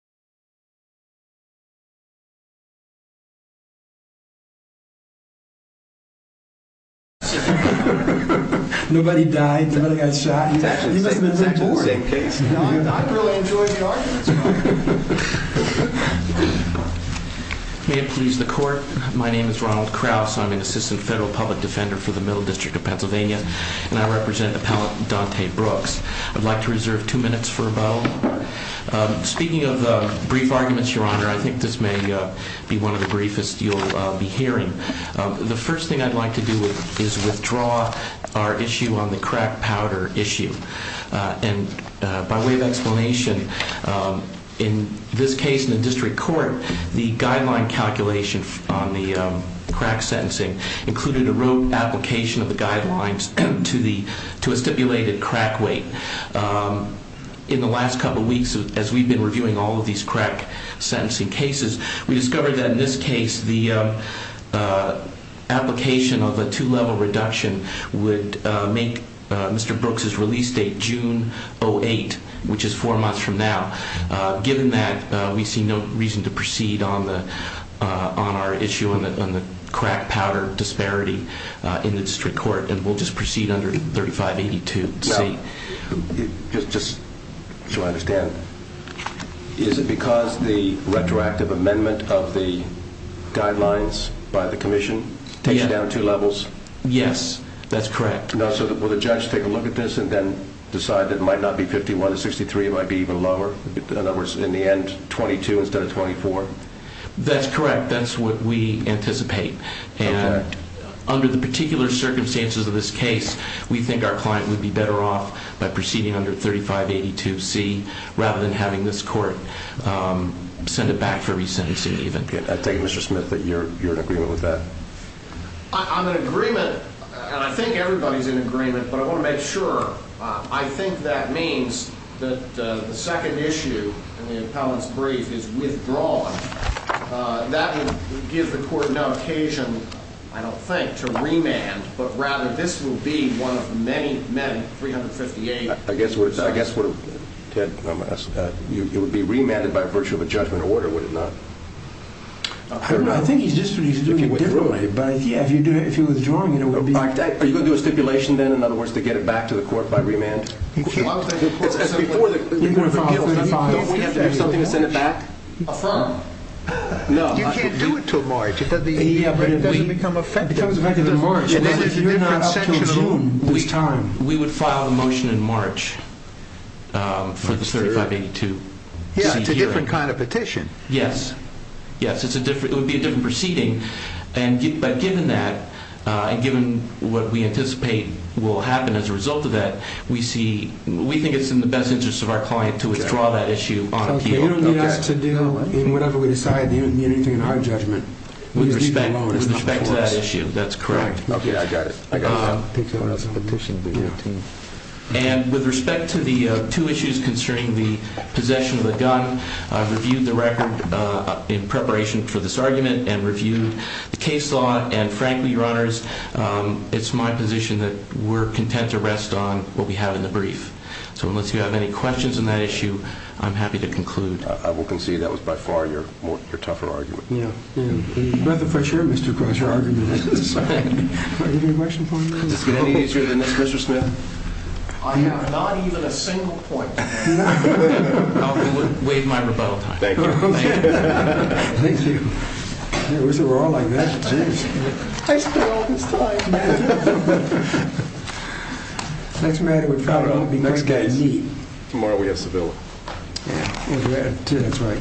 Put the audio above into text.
May it please the court, my name is Ronald Krauss, I'm an Assistant Federal Public Defender for the Middle District of Pennsylvania and I represent Appellant Dante Brooks. I'd like to reserve two minutes for a bow. Speaking of brief arguments, Your Honor, I think this may be one of the briefest you'll be hearing. The first thing I'd like to do is withdraw our issue on the crack powder issue. And by way of explanation, in this case in the District Court, the guideline calculation on the crack sentencing included a rote application of guidelines to a stipulated crack weight. In the last couple of weeks, as we've been reviewing all of these crack sentencing cases, we discovered that in this case the application of a two-level reduction would make Mr. Brooks' release date June 08, which is four months from now. Given that, we see no reason to proceed on our issue on the crack powder disparity in the District Court and we'll just proceed under 3582. Just so I understand, is it because the retroactive amendment of the guidelines by the Commission takes you down to two levels? Yes, that's correct. So will the judge take a look at this and then decide that it might not be 51 to 63, it might be even lower? In other words, in the end, 22 instead of 24? That's correct. That's what we anticipate. And under the particular circumstances of this case, we think our client would be better off by proceeding under 3582C rather than having this court send it back for resentencing even. I take it, Mr. Smith, that you're in agreement with that? I'm in agreement, and I think everybody's in agreement, but I want to make sure. I think that means that the second issue in the appellant's brief is withdrawn. That would give the court no occasion, I don't think, to remand, but rather this will be one of many met in 358. I guess what, Ted, it would be remanded by virtue of a judgment order, would it not? I don't know. I think he's just doing it differently, but yeah, if you're withdrawing it, it would be. Are you going to do a stipulation then, in other words, to get it back to the court by remand? You can't do it until March. It becomes effective in March. We would file a motion in March for the 3582C hearing. Yeah, it's a different kind of petition. Yes. Yes, it would be a different proceeding, but given that, and given what we anticipate will happen as a result of that, we think it's in the best interest of our client to withdraw that issue on appeal. You don't need us to deal in whatever we decide. You don't need anything in our judgment. With respect to that issue, that's correct. Okay, I got it. I got it. With respect to the two issues concerning the possession of the gun, I've reviewed the record in preparation for this argument and reviewed the case law, and frankly, your honors, it's my position that we're content to rest on what we have in the brief. So unless you have any questions on that issue, I'm happy to conclude. I will concede that was by far your tougher argument. Yeah, yeah. That's for sure, Mr. Cross. Your argument is decided. Are there any questions for me? Does this get any easier than this, Mr. Smith? I have not even a single point. I'll waive my rebuttal time. Thank you. Thank you. I wish it were all like that, too. I spent all this time. Next matter would probably be more neat. Tomorrow we have Sevilla. Yeah, that's right.